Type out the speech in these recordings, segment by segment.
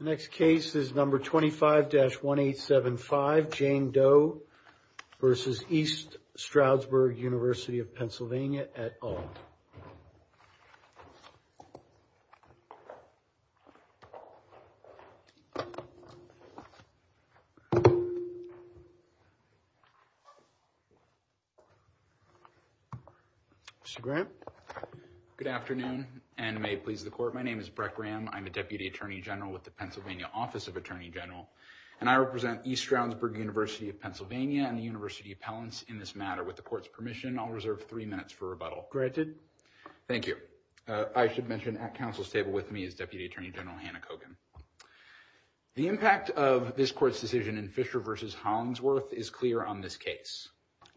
The next case is number 25-1875, Jane Doe v. East Stroudburg Univ. of PA at Auld. Mr. Graham? Good afternoon, and may it please the Court, my name is Brett Graham. I'm a Deputy Attorney General with the Pennsylvania Office of Attorney General, and I represent East Stroudburg Univ. of PA and the University Appellants in this matter. With the Court's permission, I'll reserve three minutes for rebuttal. Thank you. I should mention at Council's table with me is Deputy Attorney General Hannah Kogan. The impact of this Court's decision in Fisher v. Hollingsworth is clear on this case.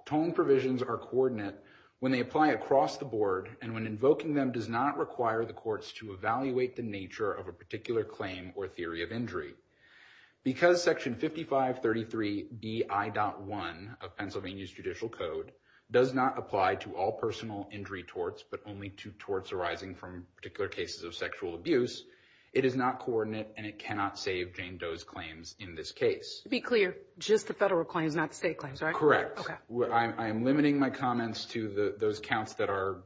Tone provisions are coordinate when they apply across the board, and when invoking them does not require the Courts to evaluate the nature of a particular claim or theory of injury. Because Section 5533BI.1 of Pennsylvania's Judicial Code does not apply to all personal injury torts, but only to torts arising from particular cases of sexual abuse, it is not coordinate and it cannot save Jane Doe's claims in this case. To be clear, just the federal claims, not the state claims, right? Correct. Okay. I am limiting my comments to those counts that are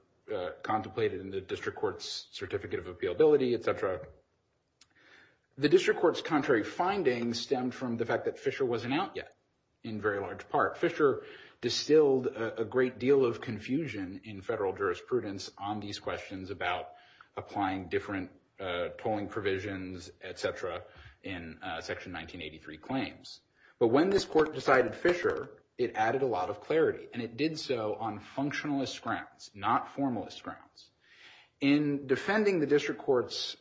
contemplated in the District Court's Certificate of Appealability, etc. The District Court's contrary findings stemmed from the fact that Fisher wasn't out yet, in very large part. Fisher distilled a great deal of confusion in federal jurisprudence on these questions about applying different tolling provisions, etc., in Section 1983 claims. But when this Court decided Fisher, it added a lot of clarity, and it did so on functionalist grounds, not formalist grounds. In defending the District Court's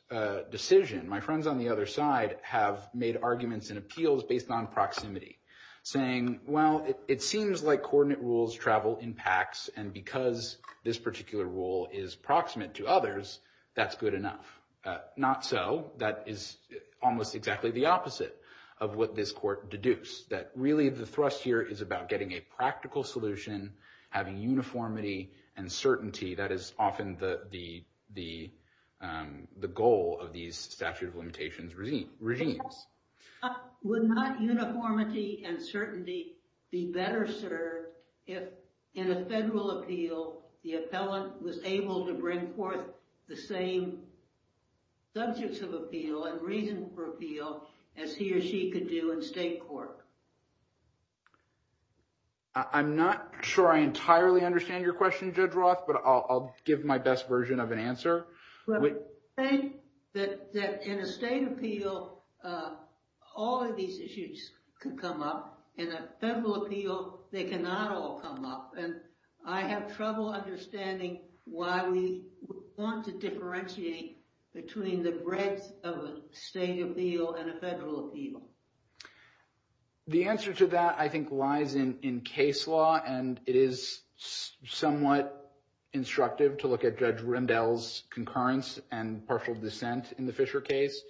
decision, my friends on the other side have made arguments and appeals based on proximity, saying, well, it seems like coordinate rules travel in packs, and because this particular rule is proximate to others, that's good enough. Not so. That is almost exactly the opposite of what this Court deduced, that really the thrust here is about getting a practical solution, having uniformity and certainty. That is often the goal of these statute of limitations regimes. Would not uniformity and certainty be better served if, in a federal appeal, the appellant was able to bring forth the same subjects of appeal and reason for appeal as he or she could do in state court? I'm not sure I entirely understand your question, Judge Roth, but I'll give my best version of an answer. We say that in a state appeal, all of these issues can come up. In a federal appeal, they cannot all come up. And I have trouble understanding why we want to differentiate between the breadth of a state appeal and a federal appeal. The answer to that, I think, lies in case law, and it is somewhat instructive to look at Judge Rendell's concurrence and partial dissent in the Fisher case,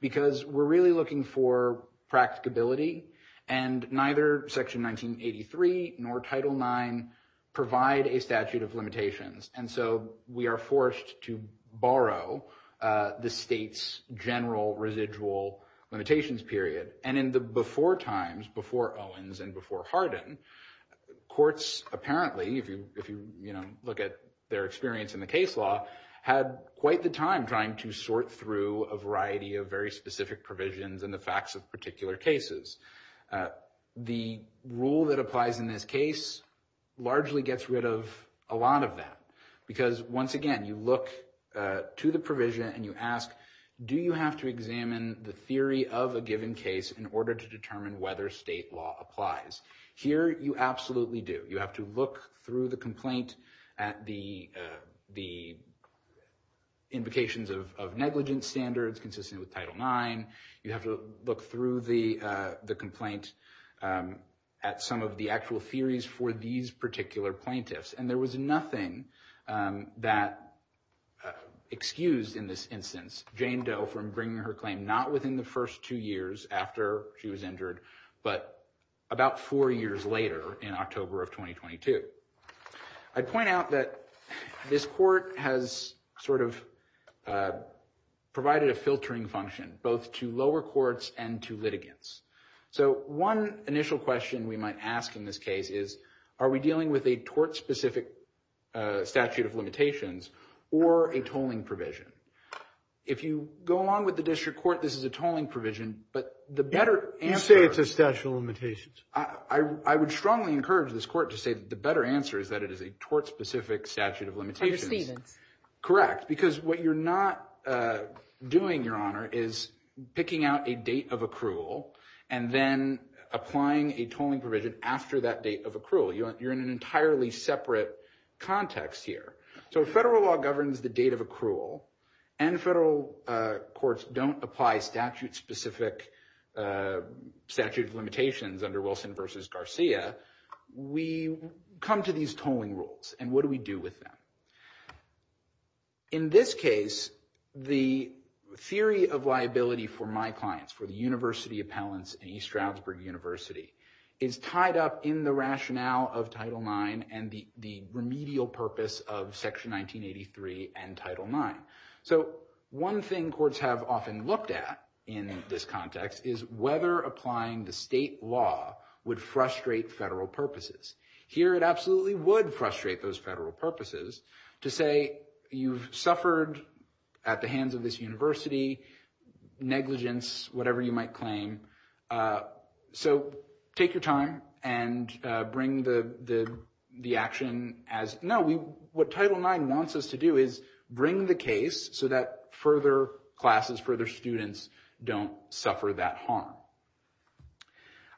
because we're really looking for practicability. And neither Section 1983 nor Title IX provide a statute of limitations, and so we are forced to borrow the state's general residual limitations period. And in the before times, before Owens and before Hardin, courts apparently, if you look at their experience in the case law, had quite the time trying to sort through a variety of very specific provisions and the facts of particular cases. The rule that applies in this case largely gets rid of a lot of that, because once again, you look to the provision and you ask, do you have to examine the theory of a given case in order to determine whether state law applies? Here, you absolutely do. You have to look through the complaint at the invocations of negligence standards consistent with Title IX. You have to look through the complaint at some of the actual theories for these particular plaintiffs. And there was nothing that excused, in this instance, Jane Doe from bringing her claim, not within the first two years after she was injured, but about four years later in October of 2022. I'd point out that this court has sort of provided a filtering function, both to lower courts and to litigants. So one initial question we might ask in this case is, are we dealing with a tort-specific statute of limitations or a tolling provision? If you go along with the district court, this is a tolling provision, but the better answer— You say it's a statute of limitations. I would strongly encourage this court to say that the better answer is that it is a tort-specific statute of limitations. Under Stephens. Correct, because what you're not doing, Your Honor, is picking out a date of accrual and then applying a tolling provision after that date of accrual. You're in an entirely separate context here. So if federal law governs the date of accrual and federal courts don't apply statute-specific statute of limitations under Wilson v. Garcia, we come to these tolling rules. And what do we do with them? In this case, the theory of liability for my clients, for the university appellants in East Stroudsburg University, is tied up in the rationale of Title IX and the remedial purpose of Section 1983 and Title IX. So one thing courts have often looked at in this context is whether applying the state law would frustrate federal purposes. Here it absolutely would frustrate those federal purposes to say you've suffered at the hands of this university negligence, whatever you might claim. So take your time and bring the action as— No, what Title IX wants us to do is bring the case so that further classes, further students don't suffer that harm.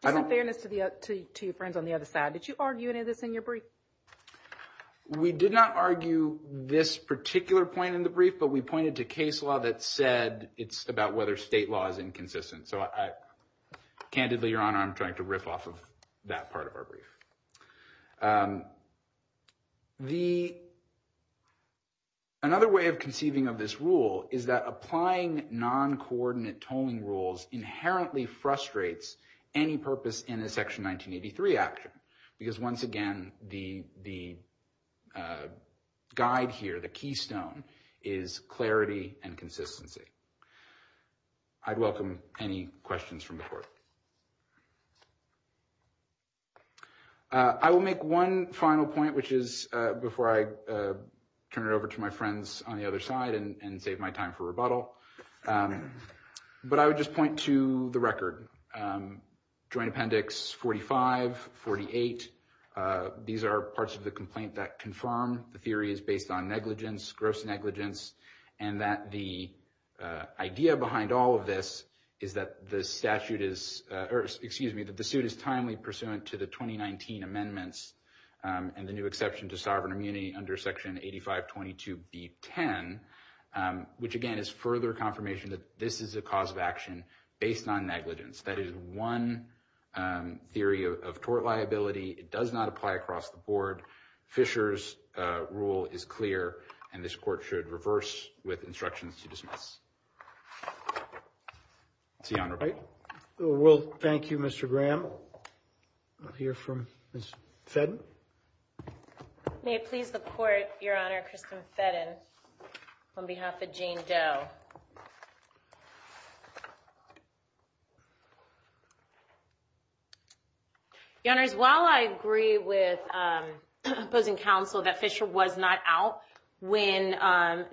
Just in fairness to your friends on the other side, did you argue any of this in your brief? We did not argue this particular point in the brief, but we pointed to case law that said it's about whether state law is inconsistent. So I—candidly, Your Honor, I'm trying to riff off of that part of our brief. The—another way of conceiving of this rule is that applying non-coordinate tolling rules inherently frustrates any purpose in a Section 1983 action. Because once again, the guide here, the keystone, is clarity and consistency. I'd welcome any questions from the court. I will make one final point, which is before I turn it over to my friends on the other side and save my time for rebuttal. But I would just point to the record. Joint Appendix 45, 48, these are parts of the complaint that confirm the theory is based on negligence, gross negligence, and that the idea behind all of this is that the statute is—or excuse me, that the suit is timely pursuant to the 2019 amendments and the new exception to sovereign immunity under Section 8522B10, which again is further confirmation that this is a cause of action based on negligence. That is one theory of tort liability. It does not apply across the board. Fisher's rule is clear, and this court should reverse with instructions to dismiss. That's the honor. All right. We'll thank you, Mr. Graham. I'll hear from Ms. Fedden. May it please the court, Your Honor, Kristen Fedden, on behalf of Jane Doe. Your Honors, while I agree with opposing counsel that Fisher was not out when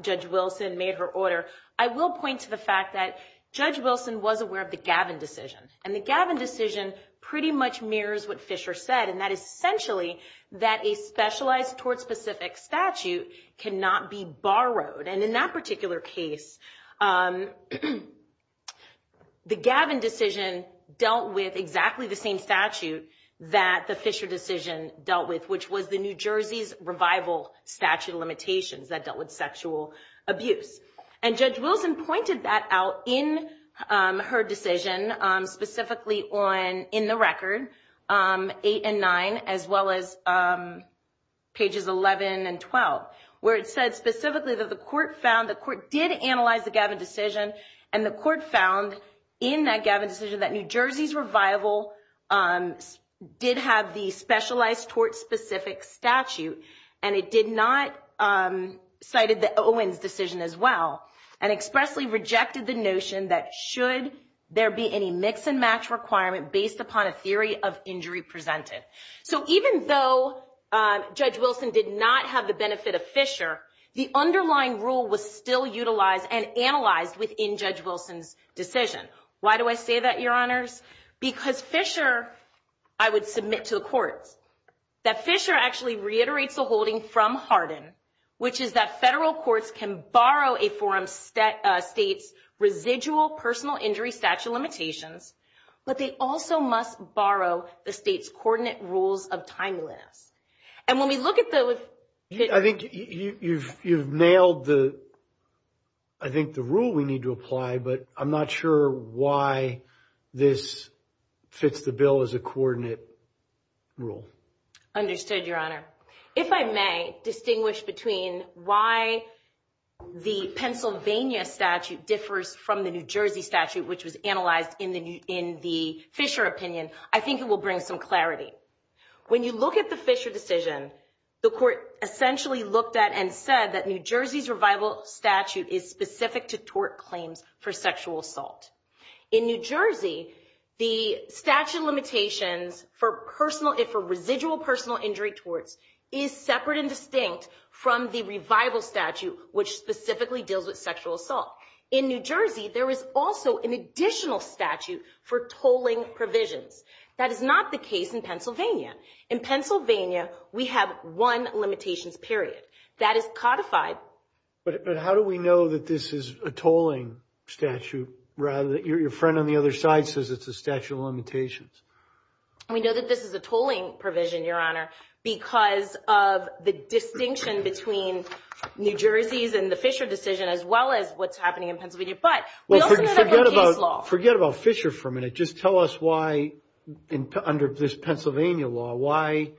Judge Wilson made her order, I will point to the fact that Judge Wilson was aware of the Gavin decision, and the Gavin decision pretty much mirrors what Fisher said, and that is essentially that a specialized tort-specific statute cannot be borrowed. And in that particular case, the Gavin decision dealt with exactly the same statute that the Fisher decision dealt with, which was the New Jersey's revival statute of limitations that dealt with sexual abuse. And Judge Wilson pointed that out in her decision, specifically in the record, 8 and 9, as well as pages 11 and 12, where it said specifically that the court found the court did analyze the Gavin decision, and the court found in that Gavin decision that New Jersey's revival did have the specialized tort-specific statute, and it did not cite the Owens decision as well, and expressly rejected the notion that should there be any mix-and-match requirement based upon a theory of injury presented. So even though Judge Wilson did not have the benefit of Fisher, the underlying rule was still utilized and analyzed within Judge Wilson's decision. Why do I say that, Your Honors? Because Fisher, I would submit to the courts, that Fisher actually reiterates the holding from Hardin, which is that federal courts can borrow a forum state's residual personal injury statute limitations, but they also must borrow the state's coordinate rules of timeliness. And when we look at the... I think you've nailed, I think, the rule we need to apply, but I'm not sure why this fits the bill as a coordinate rule. Understood, Your Honor. If I may distinguish between why the Pennsylvania statute differs from the New Jersey statute, which was analyzed in the Fisher opinion, I think it will bring some clarity. When you look at the Fisher decision, the court essentially looked at and said that New Jersey's revival statute is specific to tort claims for sexual assault. In New Jersey, the statute of limitations for residual personal injury torts is separate and distinct from the revival statute, which specifically deals with sexual assault. In New Jersey, there is also an additional statute for tolling provisions. That is not the case in Pennsylvania. In Pennsylvania, we have one limitations period. That is codified. But how do we know that this is a tolling statute, rather than your friend on the other side says it's a statute of limitations? We know that this is a tolling provision, Your Honor, because of the distinction between New Jersey's and the Fisher decision, as well as what's happening in Pennsylvania. But we also have a case law. Forget about Fisher for a minute. Just tell us why, under this Pennsylvania law, why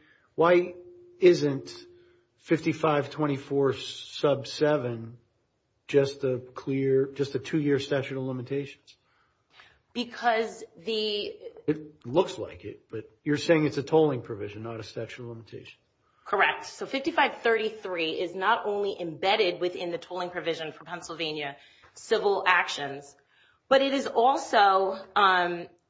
isn't 5524 sub 7 just a two-year statute of limitations? It looks like it, but you're saying it's a tolling provision, not a statute of limitations. Correct. So 5533 is not only embedded within the tolling provision for Pennsylvania civil actions, but it is also,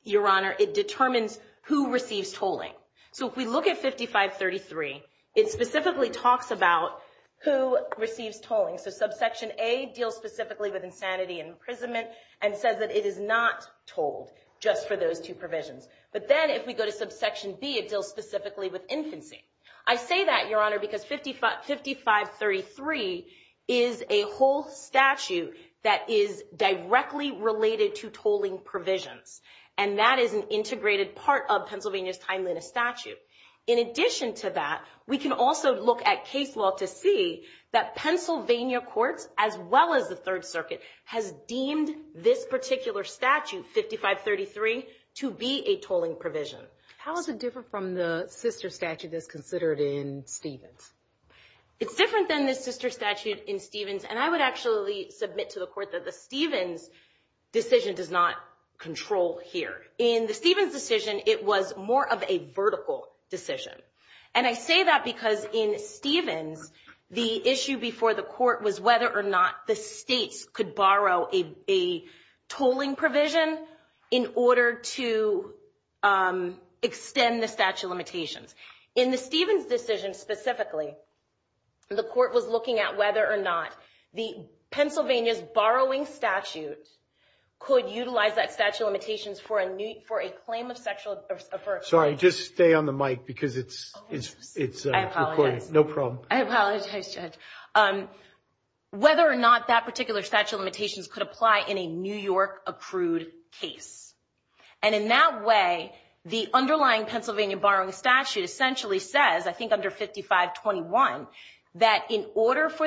Your Honor, it determines who receives tolling. So if we look at 5533, it specifically talks about who receives tolling. So subsection A deals specifically with insanity and imprisonment and says that it is not tolled, just for those two provisions. But then if we go to subsection B, it deals specifically with infancy. I say that, Your Honor, because 5533 is a whole statute that is directly related to tolling provisions. And that is an integrated part of Pennsylvania's timeliness statute. In addition to that, we can also look at case law to see that Pennsylvania courts, as well as the Third Circuit, has deemed this particular statute, 5533, to be a tolling provision. How is it different from the sister statute that's considered in Stevens? It's different than the sister statute in Stevens. And I would actually submit to the court that the Stevens decision does not control here. In the Stevens decision, it was more of a vertical decision. And I say that because in Stevens, the issue before the court was whether or not the states could borrow a tolling provision in order to extend the statute of limitations. In the Stevens decision specifically, the court was looking at whether or not Pennsylvania's borrowing statute could utilize that statute of limitations for a claim of sexual assault. Sorry, just stay on the mic because it's recording. No problem. I apologize, Judge. Whether or not that particular statute of limitations could apply in a New York-accrued case. And in that way, the underlying Pennsylvania borrowing statute essentially says, I think under 5521, that in order for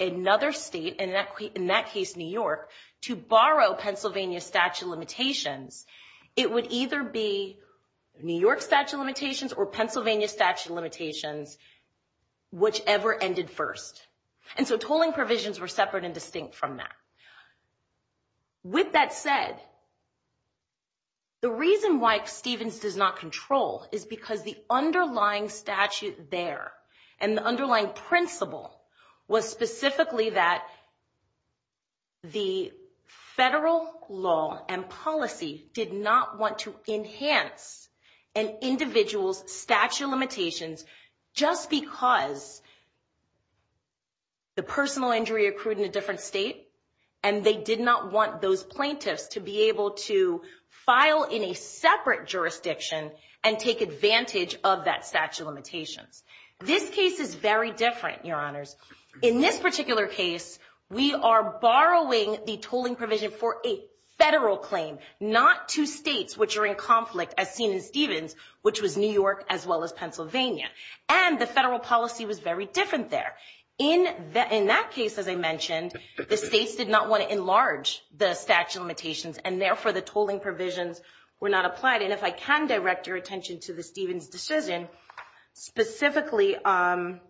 another state, in that case New York, to borrow Pennsylvania's statute of limitations, it would either be New York statute of limitations or Pennsylvania statute of limitations, whichever ended first. And so tolling provisions were separate and distinct from that. With that said, the reason why Stevens does not control is because the underlying statute there and the underlying principle was specifically that the federal law and policy did not want to enhance an individual's statute of limitations just because the personal injury accrued in a different state and they did not want those plaintiffs to be able to file in a separate jurisdiction and take advantage of that statute of limitations. This case is very different, Your Honors. In this particular case, we are borrowing the tolling provision for a federal claim, not two states which are in conflict as seen in Stevens, which was New York as well as Pennsylvania. And the federal policy was very different there. In that case, as I mentioned, the states did not want to enlarge the statute of limitations and therefore the tolling provisions were not applied. And if I can direct your attention to the Stevens decision, specifically on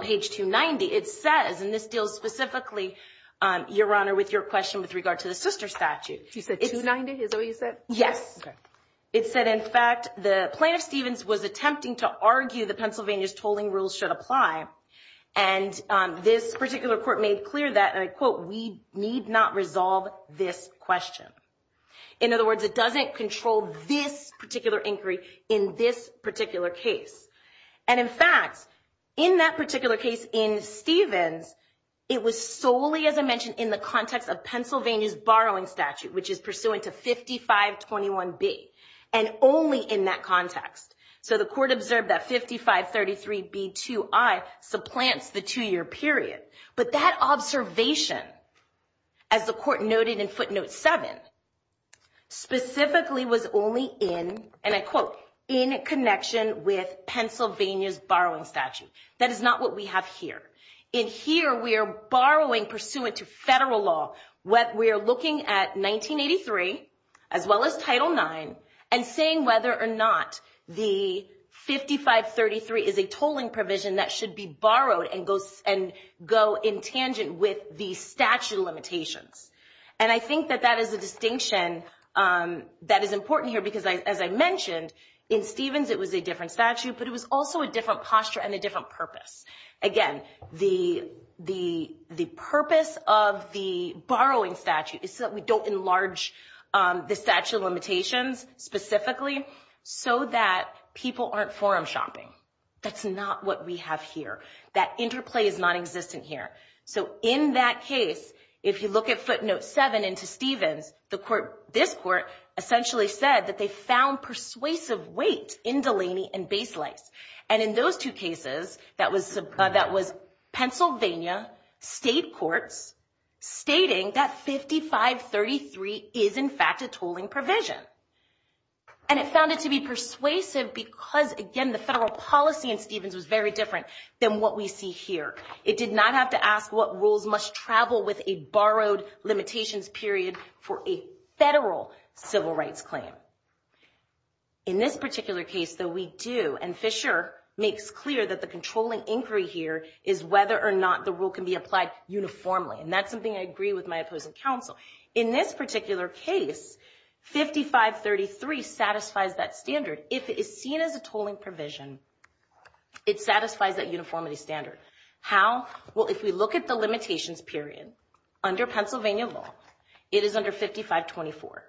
page 290, it says, and this deals specifically, Your Honor, with your question with regard to the sister statute. You said 290? Is that what you said? Yes. Okay. It said, in fact, the plaintiff, Stevens, was attempting to argue the Pennsylvania's tolling rules should apply. And this particular court made clear that, and I quote, we need not resolve this question. In other words, it doesn't control this particular inquiry in this particular case. And, in fact, in that particular case in Stevens, it was solely, as I mentioned, in the context of Pennsylvania's borrowing statute, which is pursuant to 5521B, and only in that context. So the court observed that 5533B2I supplants the two-year period. But that observation, as the court noted in footnote 7, specifically was only in, and I quote, in connection with Pennsylvania's borrowing statute. That is not what we have here. In here, we are borrowing pursuant to federal law. We are looking at 1983, as well as Title IX, and saying whether or not the 5533 is a tolling provision that should be borrowed and go in tangent with the statute of limitations. And I think that that is a distinction that is important here because, as I mentioned, in Stevens, it was a different statute, but it was also a different posture and a different purpose. Again, the purpose of the borrowing statute is so that we don't enlarge the statute of limitations specifically so that people aren't forum shopping. That's not what we have here. That interplay is nonexistent here. So in that case, if you look at footnote 7 into Stevens, this court essentially said that they found persuasive weight in Delaney and Baselights. And in those two cases, that was Pennsylvania state courts stating that 5533 is, in fact, a tolling provision. And it found it to be persuasive because, again, the federal policy in Stevens was very different than what we see here. It did not have to ask what rules must travel with a borrowed limitations period for a federal civil rights claim. In this particular case, though, we do, and Fisher makes clear that the controlling inquiry here is whether or not the rule can be applied uniformly, and that's something I agree with my opposing counsel. In this particular case, 5533 satisfies that standard. If it is seen as a tolling provision, it satisfies that uniformity standard. How? Well, if we look at the limitations period under Pennsylvania law, it is under 5524.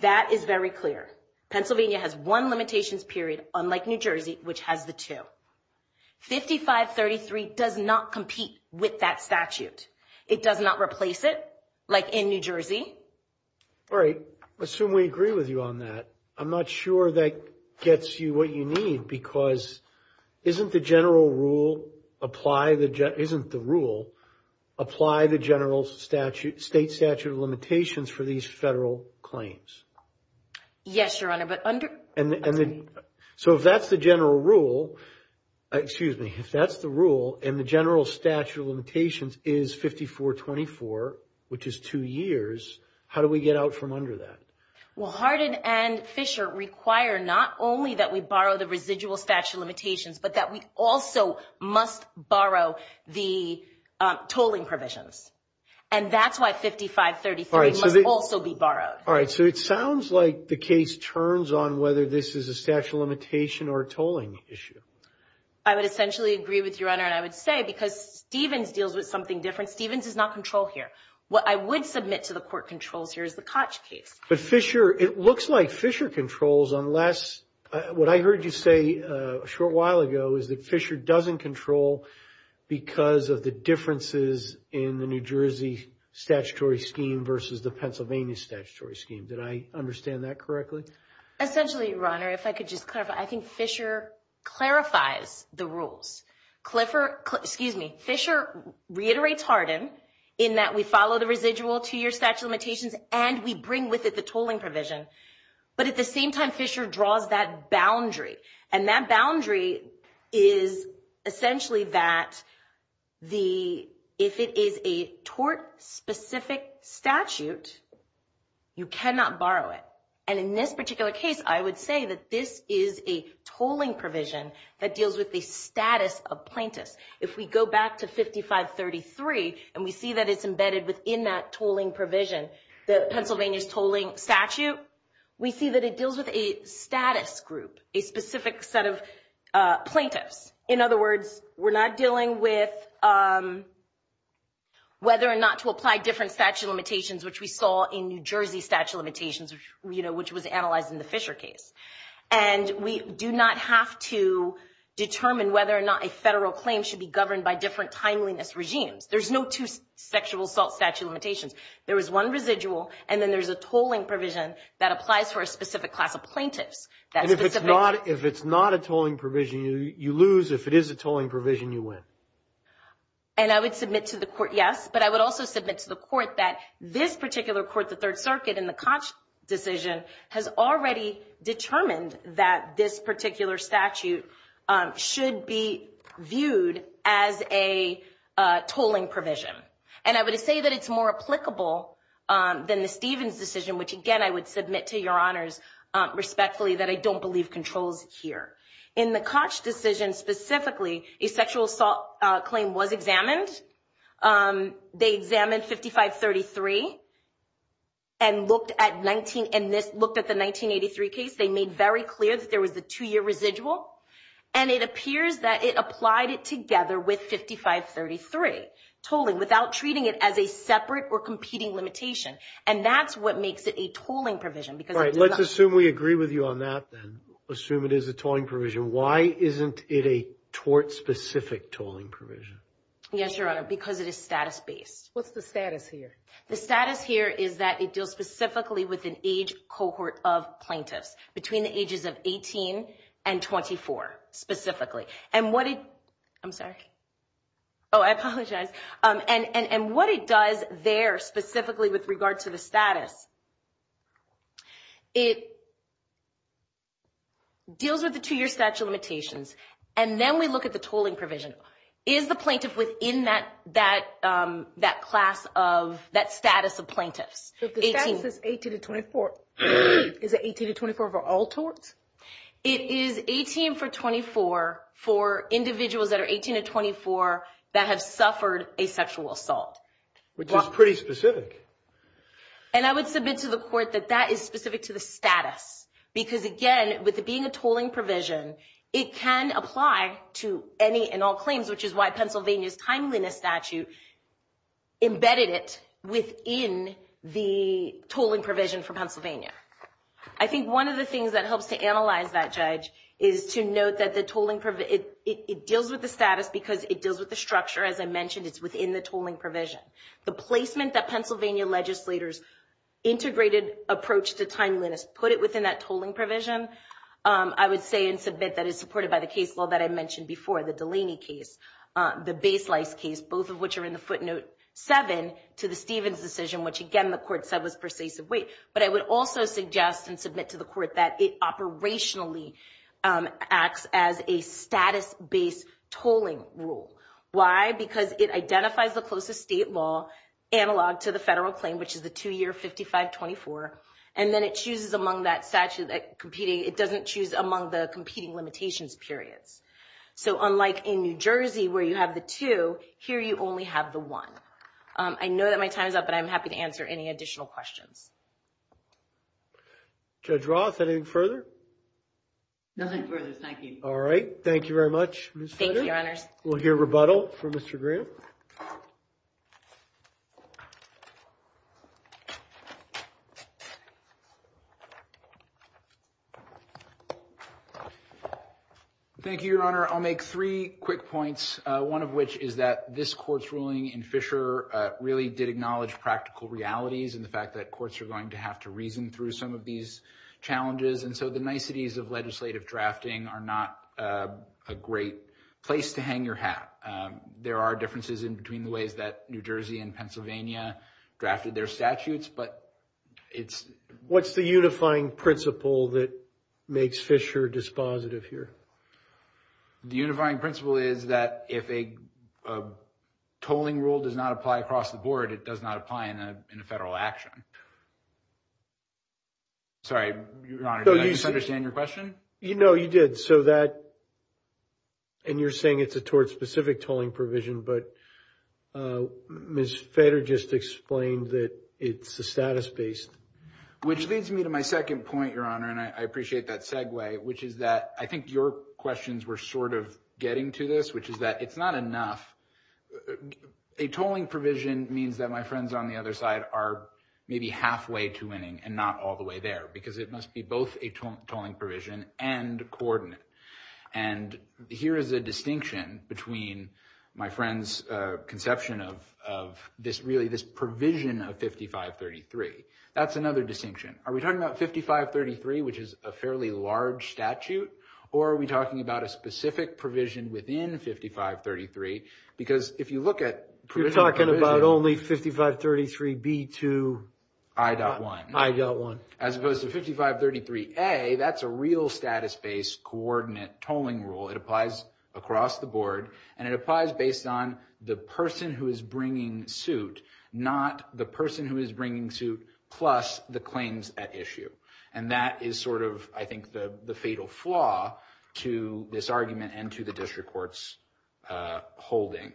That is very clear. Pennsylvania has one limitations period, unlike New Jersey, which has the two. 5533 does not compete with that statute. It does not replace it, like in New Jersey. All right. I assume we agree with you on that. I'm not sure that gets you what you need because isn't the general rule, apply the, isn't the rule, apply the general statute, state statute of limitations for these federal claims? Yes, Your Honor, but under. So if that's the general rule, excuse me, if that's the rule and the general statute of limitations is 5424, which is two years, how do we get out from under that? Well, Hardin and Fisher require not only that we borrow the residual statute of limitations, but that we also must borrow the tolling provisions, and that's why 5533 must also be borrowed. All right. So it sounds like the case turns on whether this is a statute of limitation or a tolling issue. I would essentially agree with you, Your Honor, and I would say because Stevens deals with something different. Stevens does not control here. What I would submit to the court controls here is the Koch case. But Fisher, it looks like Fisher controls unless, what I heard you say a short while ago, is that Fisher doesn't control because of the differences in the New Jersey statutory scheme versus the Pennsylvania statutory scheme. Did I understand that correctly? Essentially, Your Honor, if I could just clarify, I think Fisher clarifies the rules. Clifford, excuse me, Fisher reiterates Hardin in that we follow the residual two-year statute of limitations and we bring with it the tolling provision. But at the same time, Fisher draws that boundary. And that boundary is essentially that if it is a tort-specific statute, you cannot borrow it. And in this particular case, I would say that this is a tolling provision that deals with the status of plaintiffs. If we go back to 5533 and we see that it's embedded within that tolling provision, the Pennsylvania's tolling statute, we see that it deals with a status group, a specific set of plaintiffs. In other words, we're not dealing with whether or not to apply different statute of limitations, which we saw in New Jersey statute of limitations, which was analyzed in the Fisher case. And we do not have to determine whether or not a federal claim should be governed by different timeliness regimes. There's no two sexual assault statute of limitations. There is one residual. And then there's a tolling provision that applies for a specific class of plaintiffs. And if it's not a tolling provision, you lose. If it is a tolling provision, you win. And I would submit to the court, yes. But I would also submit to the court that this particular court, the Third Circuit, in the Koch decision has already determined that this particular statute should be viewed as a tolling provision. And I would say that it's more applicable than the Stevens decision, which, again, I would submit to your honors respectfully that I don't believe controls here. In the Koch decision specifically, a sexual assault claim was examined. They examined 5533 and looked at the 1983 case. They made very clear that there was a two-year residual. And it appears that it applied it together with 5533 tolling without treating it as a separate or competing limitation. And that's what makes it a tolling provision. All right. Let's assume we agree with you on that then. Assume it is a tolling provision. Why isn't it a tort-specific tolling provision? Yes, Your Honor, because it is status-based. What's the status here? The status here is that it deals specifically with an age cohort of plaintiffs between the ages of 18 and 24 specifically. And what it does there specifically with regard to the status, it deals with the two-year statute limitations. And then we look at the tolling provision. Is the plaintiff within that status of plaintiffs? So if the status is 18 to 24, is it 18 to 24 for all torts? It is 18 for 24 for individuals that are 18 to 24 that have suffered a sexual assault. Which is pretty specific. And I would submit to the court that that is specific to the status. Because, again, with it being a tolling provision, it can apply to any and all claims, which is why Pennsylvania's timeliness statute embedded it within the tolling provision for Pennsylvania. I think one of the things that helps to analyze that, Judge, is to note that it deals with the status because it deals with the structure. As I mentioned, it's within the tolling provision. The placement that Pennsylvania legislators integrated approach to timeliness, put it within that tolling provision, I would say and submit that it's supported by the case law that I mentioned before, the Delaney case. The Baselice case, both of which are in the footnote 7 to the Stevens decision, which, again, the court said was pervasive weight. But I would also suggest and submit to the court that it operationally acts as a status-based tolling rule. Why? Because it identifies the closest state law analog to the federal claim, which is the two-year 55-24. And then it chooses among that statute that competing. It doesn't choose among the competing limitations periods. So unlike in New Jersey, where you have the two, here you only have the one. I know that my time is up, but I'm happy to answer any additional questions. Judge Roth, anything further? Nothing further. Thank you. All right. Thank you very much. Thank you, Your Honors. We'll hear rebuttal from Mr. Graham. Thank you, Your Honor. I'll make three quick points, one of which is that this court's ruling in Fisher really did acknowledge practical realities and the fact that courts are going to have to reason through some of these challenges. And so the niceties of legislative drafting are not a great place to hang your hat. There are differences in between the ways that New Jersey and Pennsylvania drafted their statutes, but it's – What's the unifying principle that makes Fisher dispositive here? The unifying principle is that if a tolling rule does not apply across the board, it does not apply in a federal action. Sorry, Your Honor, did I misunderstand your question? No, you did. So that – and you're saying it's a specific tolling provision, but Ms. Feder just explained that it's a status-based. Which leads me to my second point, Your Honor, and I appreciate that segue, which is that I think your questions were sort of getting to this, which is that it's not enough. A tolling provision means that my friends on the other side are maybe halfway to winning and not all the way there because it must be both a tolling provision and coordinate. And here is a distinction between my friend's conception of really this provision of 5533. That's another distinction. Are we talking about 5533, which is a fairly large statute, or are we talking about a specific provision within 5533? Because if you look at – You're talking about only 5533B2. I.1. I.1. As opposed to 5533A, that's a real status-based coordinate tolling rule. It applies across the board, and it applies based on the person who is bringing suit, not the person who is bringing suit plus the claims at issue. And that is sort of, I think, the fatal flaw to this argument and to the district court's holding.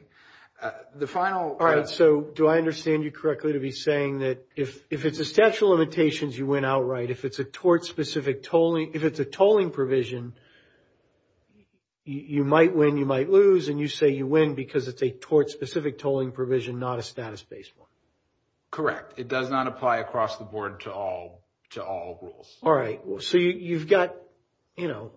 The final – All right, so do I understand you correctly to be saying that if it's a statute of limitations, you win outright? If it's a tort-specific tolling – if it's a tolling provision, you might win, you might lose, and you say you win because it's a tort-specific tolling provision, not a status-based one? Correct. It does not apply across the board to all rules. All right. So you've got – you know,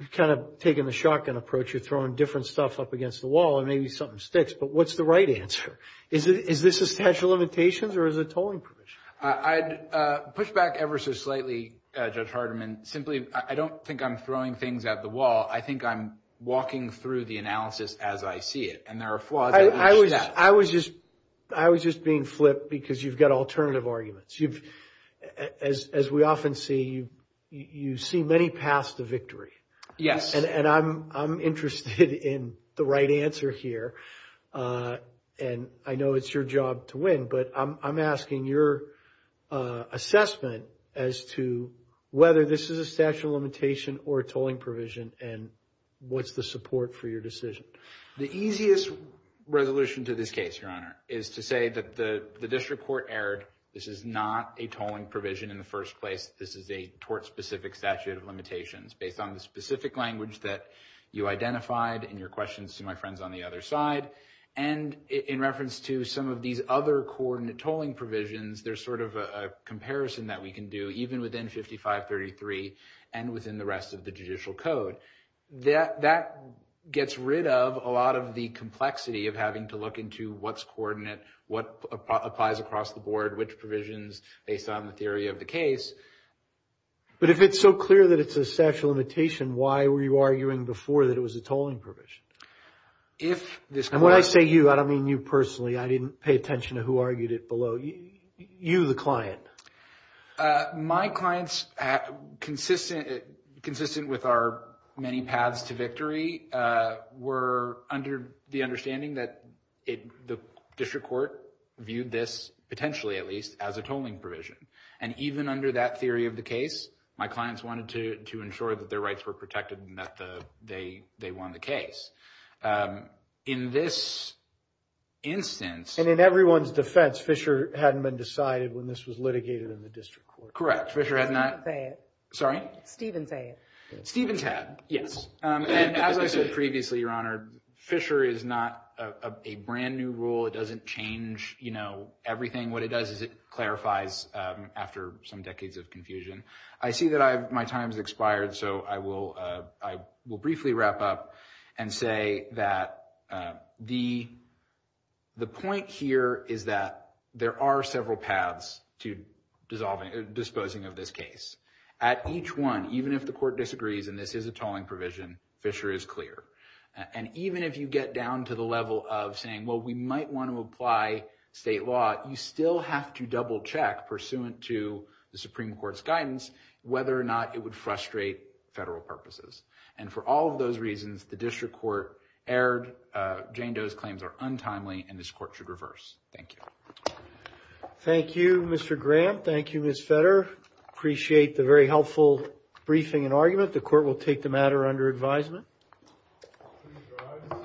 you've kind of taken the shotgun approach. You're throwing different stuff up against the wall, and maybe something sticks. But what's the right answer? Is this a statute of limitations or is it tolling provision? I'd push back ever so slightly, Judge Hardiman. Simply, I don't think I'm throwing things at the wall. I think I'm walking through the analysis as I see it, and there are flaws in each step. I was just being flipped because you've got alternative arguments. As we often see, you see many paths to victory. Yes. And I'm interested in the right answer here, and I know it's your job to win, but I'm asking your assessment as to whether this is a statute of limitation or a tolling provision, and what's the support for your decision? The easiest resolution to this case, Your Honor, is to say that the district court erred. This is not a tolling provision in the first place. This is a tort-specific statute of limitations based on the specific language that you identified in your questions to my friends on the other side, and in reference to some of these other coordinate tolling provisions, there's sort of a comparison that we can do even within 5533 and within the rest of the judicial code. That gets rid of a lot of the complexity of having to look into what's coordinate, what applies across the board, which provisions based on the theory of the case. But if it's so clear that it's a statute of limitation, why were you arguing before that it was a tolling provision? And when I say you, I don't mean you personally. I didn't pay attention to who argued it below. You, the client. My clients, consistent with our many paths to victory, were under the understanding that the district court viewed this, potentially at least, as a tolling provision, and even under that theory of the case, my clients wanted to ensure that their rights were protected and that they won the case. In this instance. And in everyone's defense, Fisher hadn't been decided when this was litigated in the district court. Correct. Fisher had not. Say it. Sorry? Stevens say it. Stevens had. Yes. And as I said previously, Your Honor, Fisher is not a brand new rule. It doesn't change everything. What it does is it clarifies after some decades of confusion. I see that my time has expired, so I will briefly wrap up and say that the point here is that there are several paths to disposing of this case. At each one, even if the court disagrees and this is a tolling provision, Fisher is clear. And even if you get down to the level of saying, well, we might want to apply state law, you still have to double check, pursuant to the Supreme Court's guidance, whether or not it would frustrate federal purposes. And for all of those reasons, the district court erred. Jane Doe's claims are untimely, and this court should reverse. Thank you. Thank you, Mr. Graham. Thank you, Ms. Fetter. Appreciate the very helpful briefing and argument. The court will take the matter under advisement. Please rise. The court stands adjourned until Wednesday, December 24th. Recording stopped.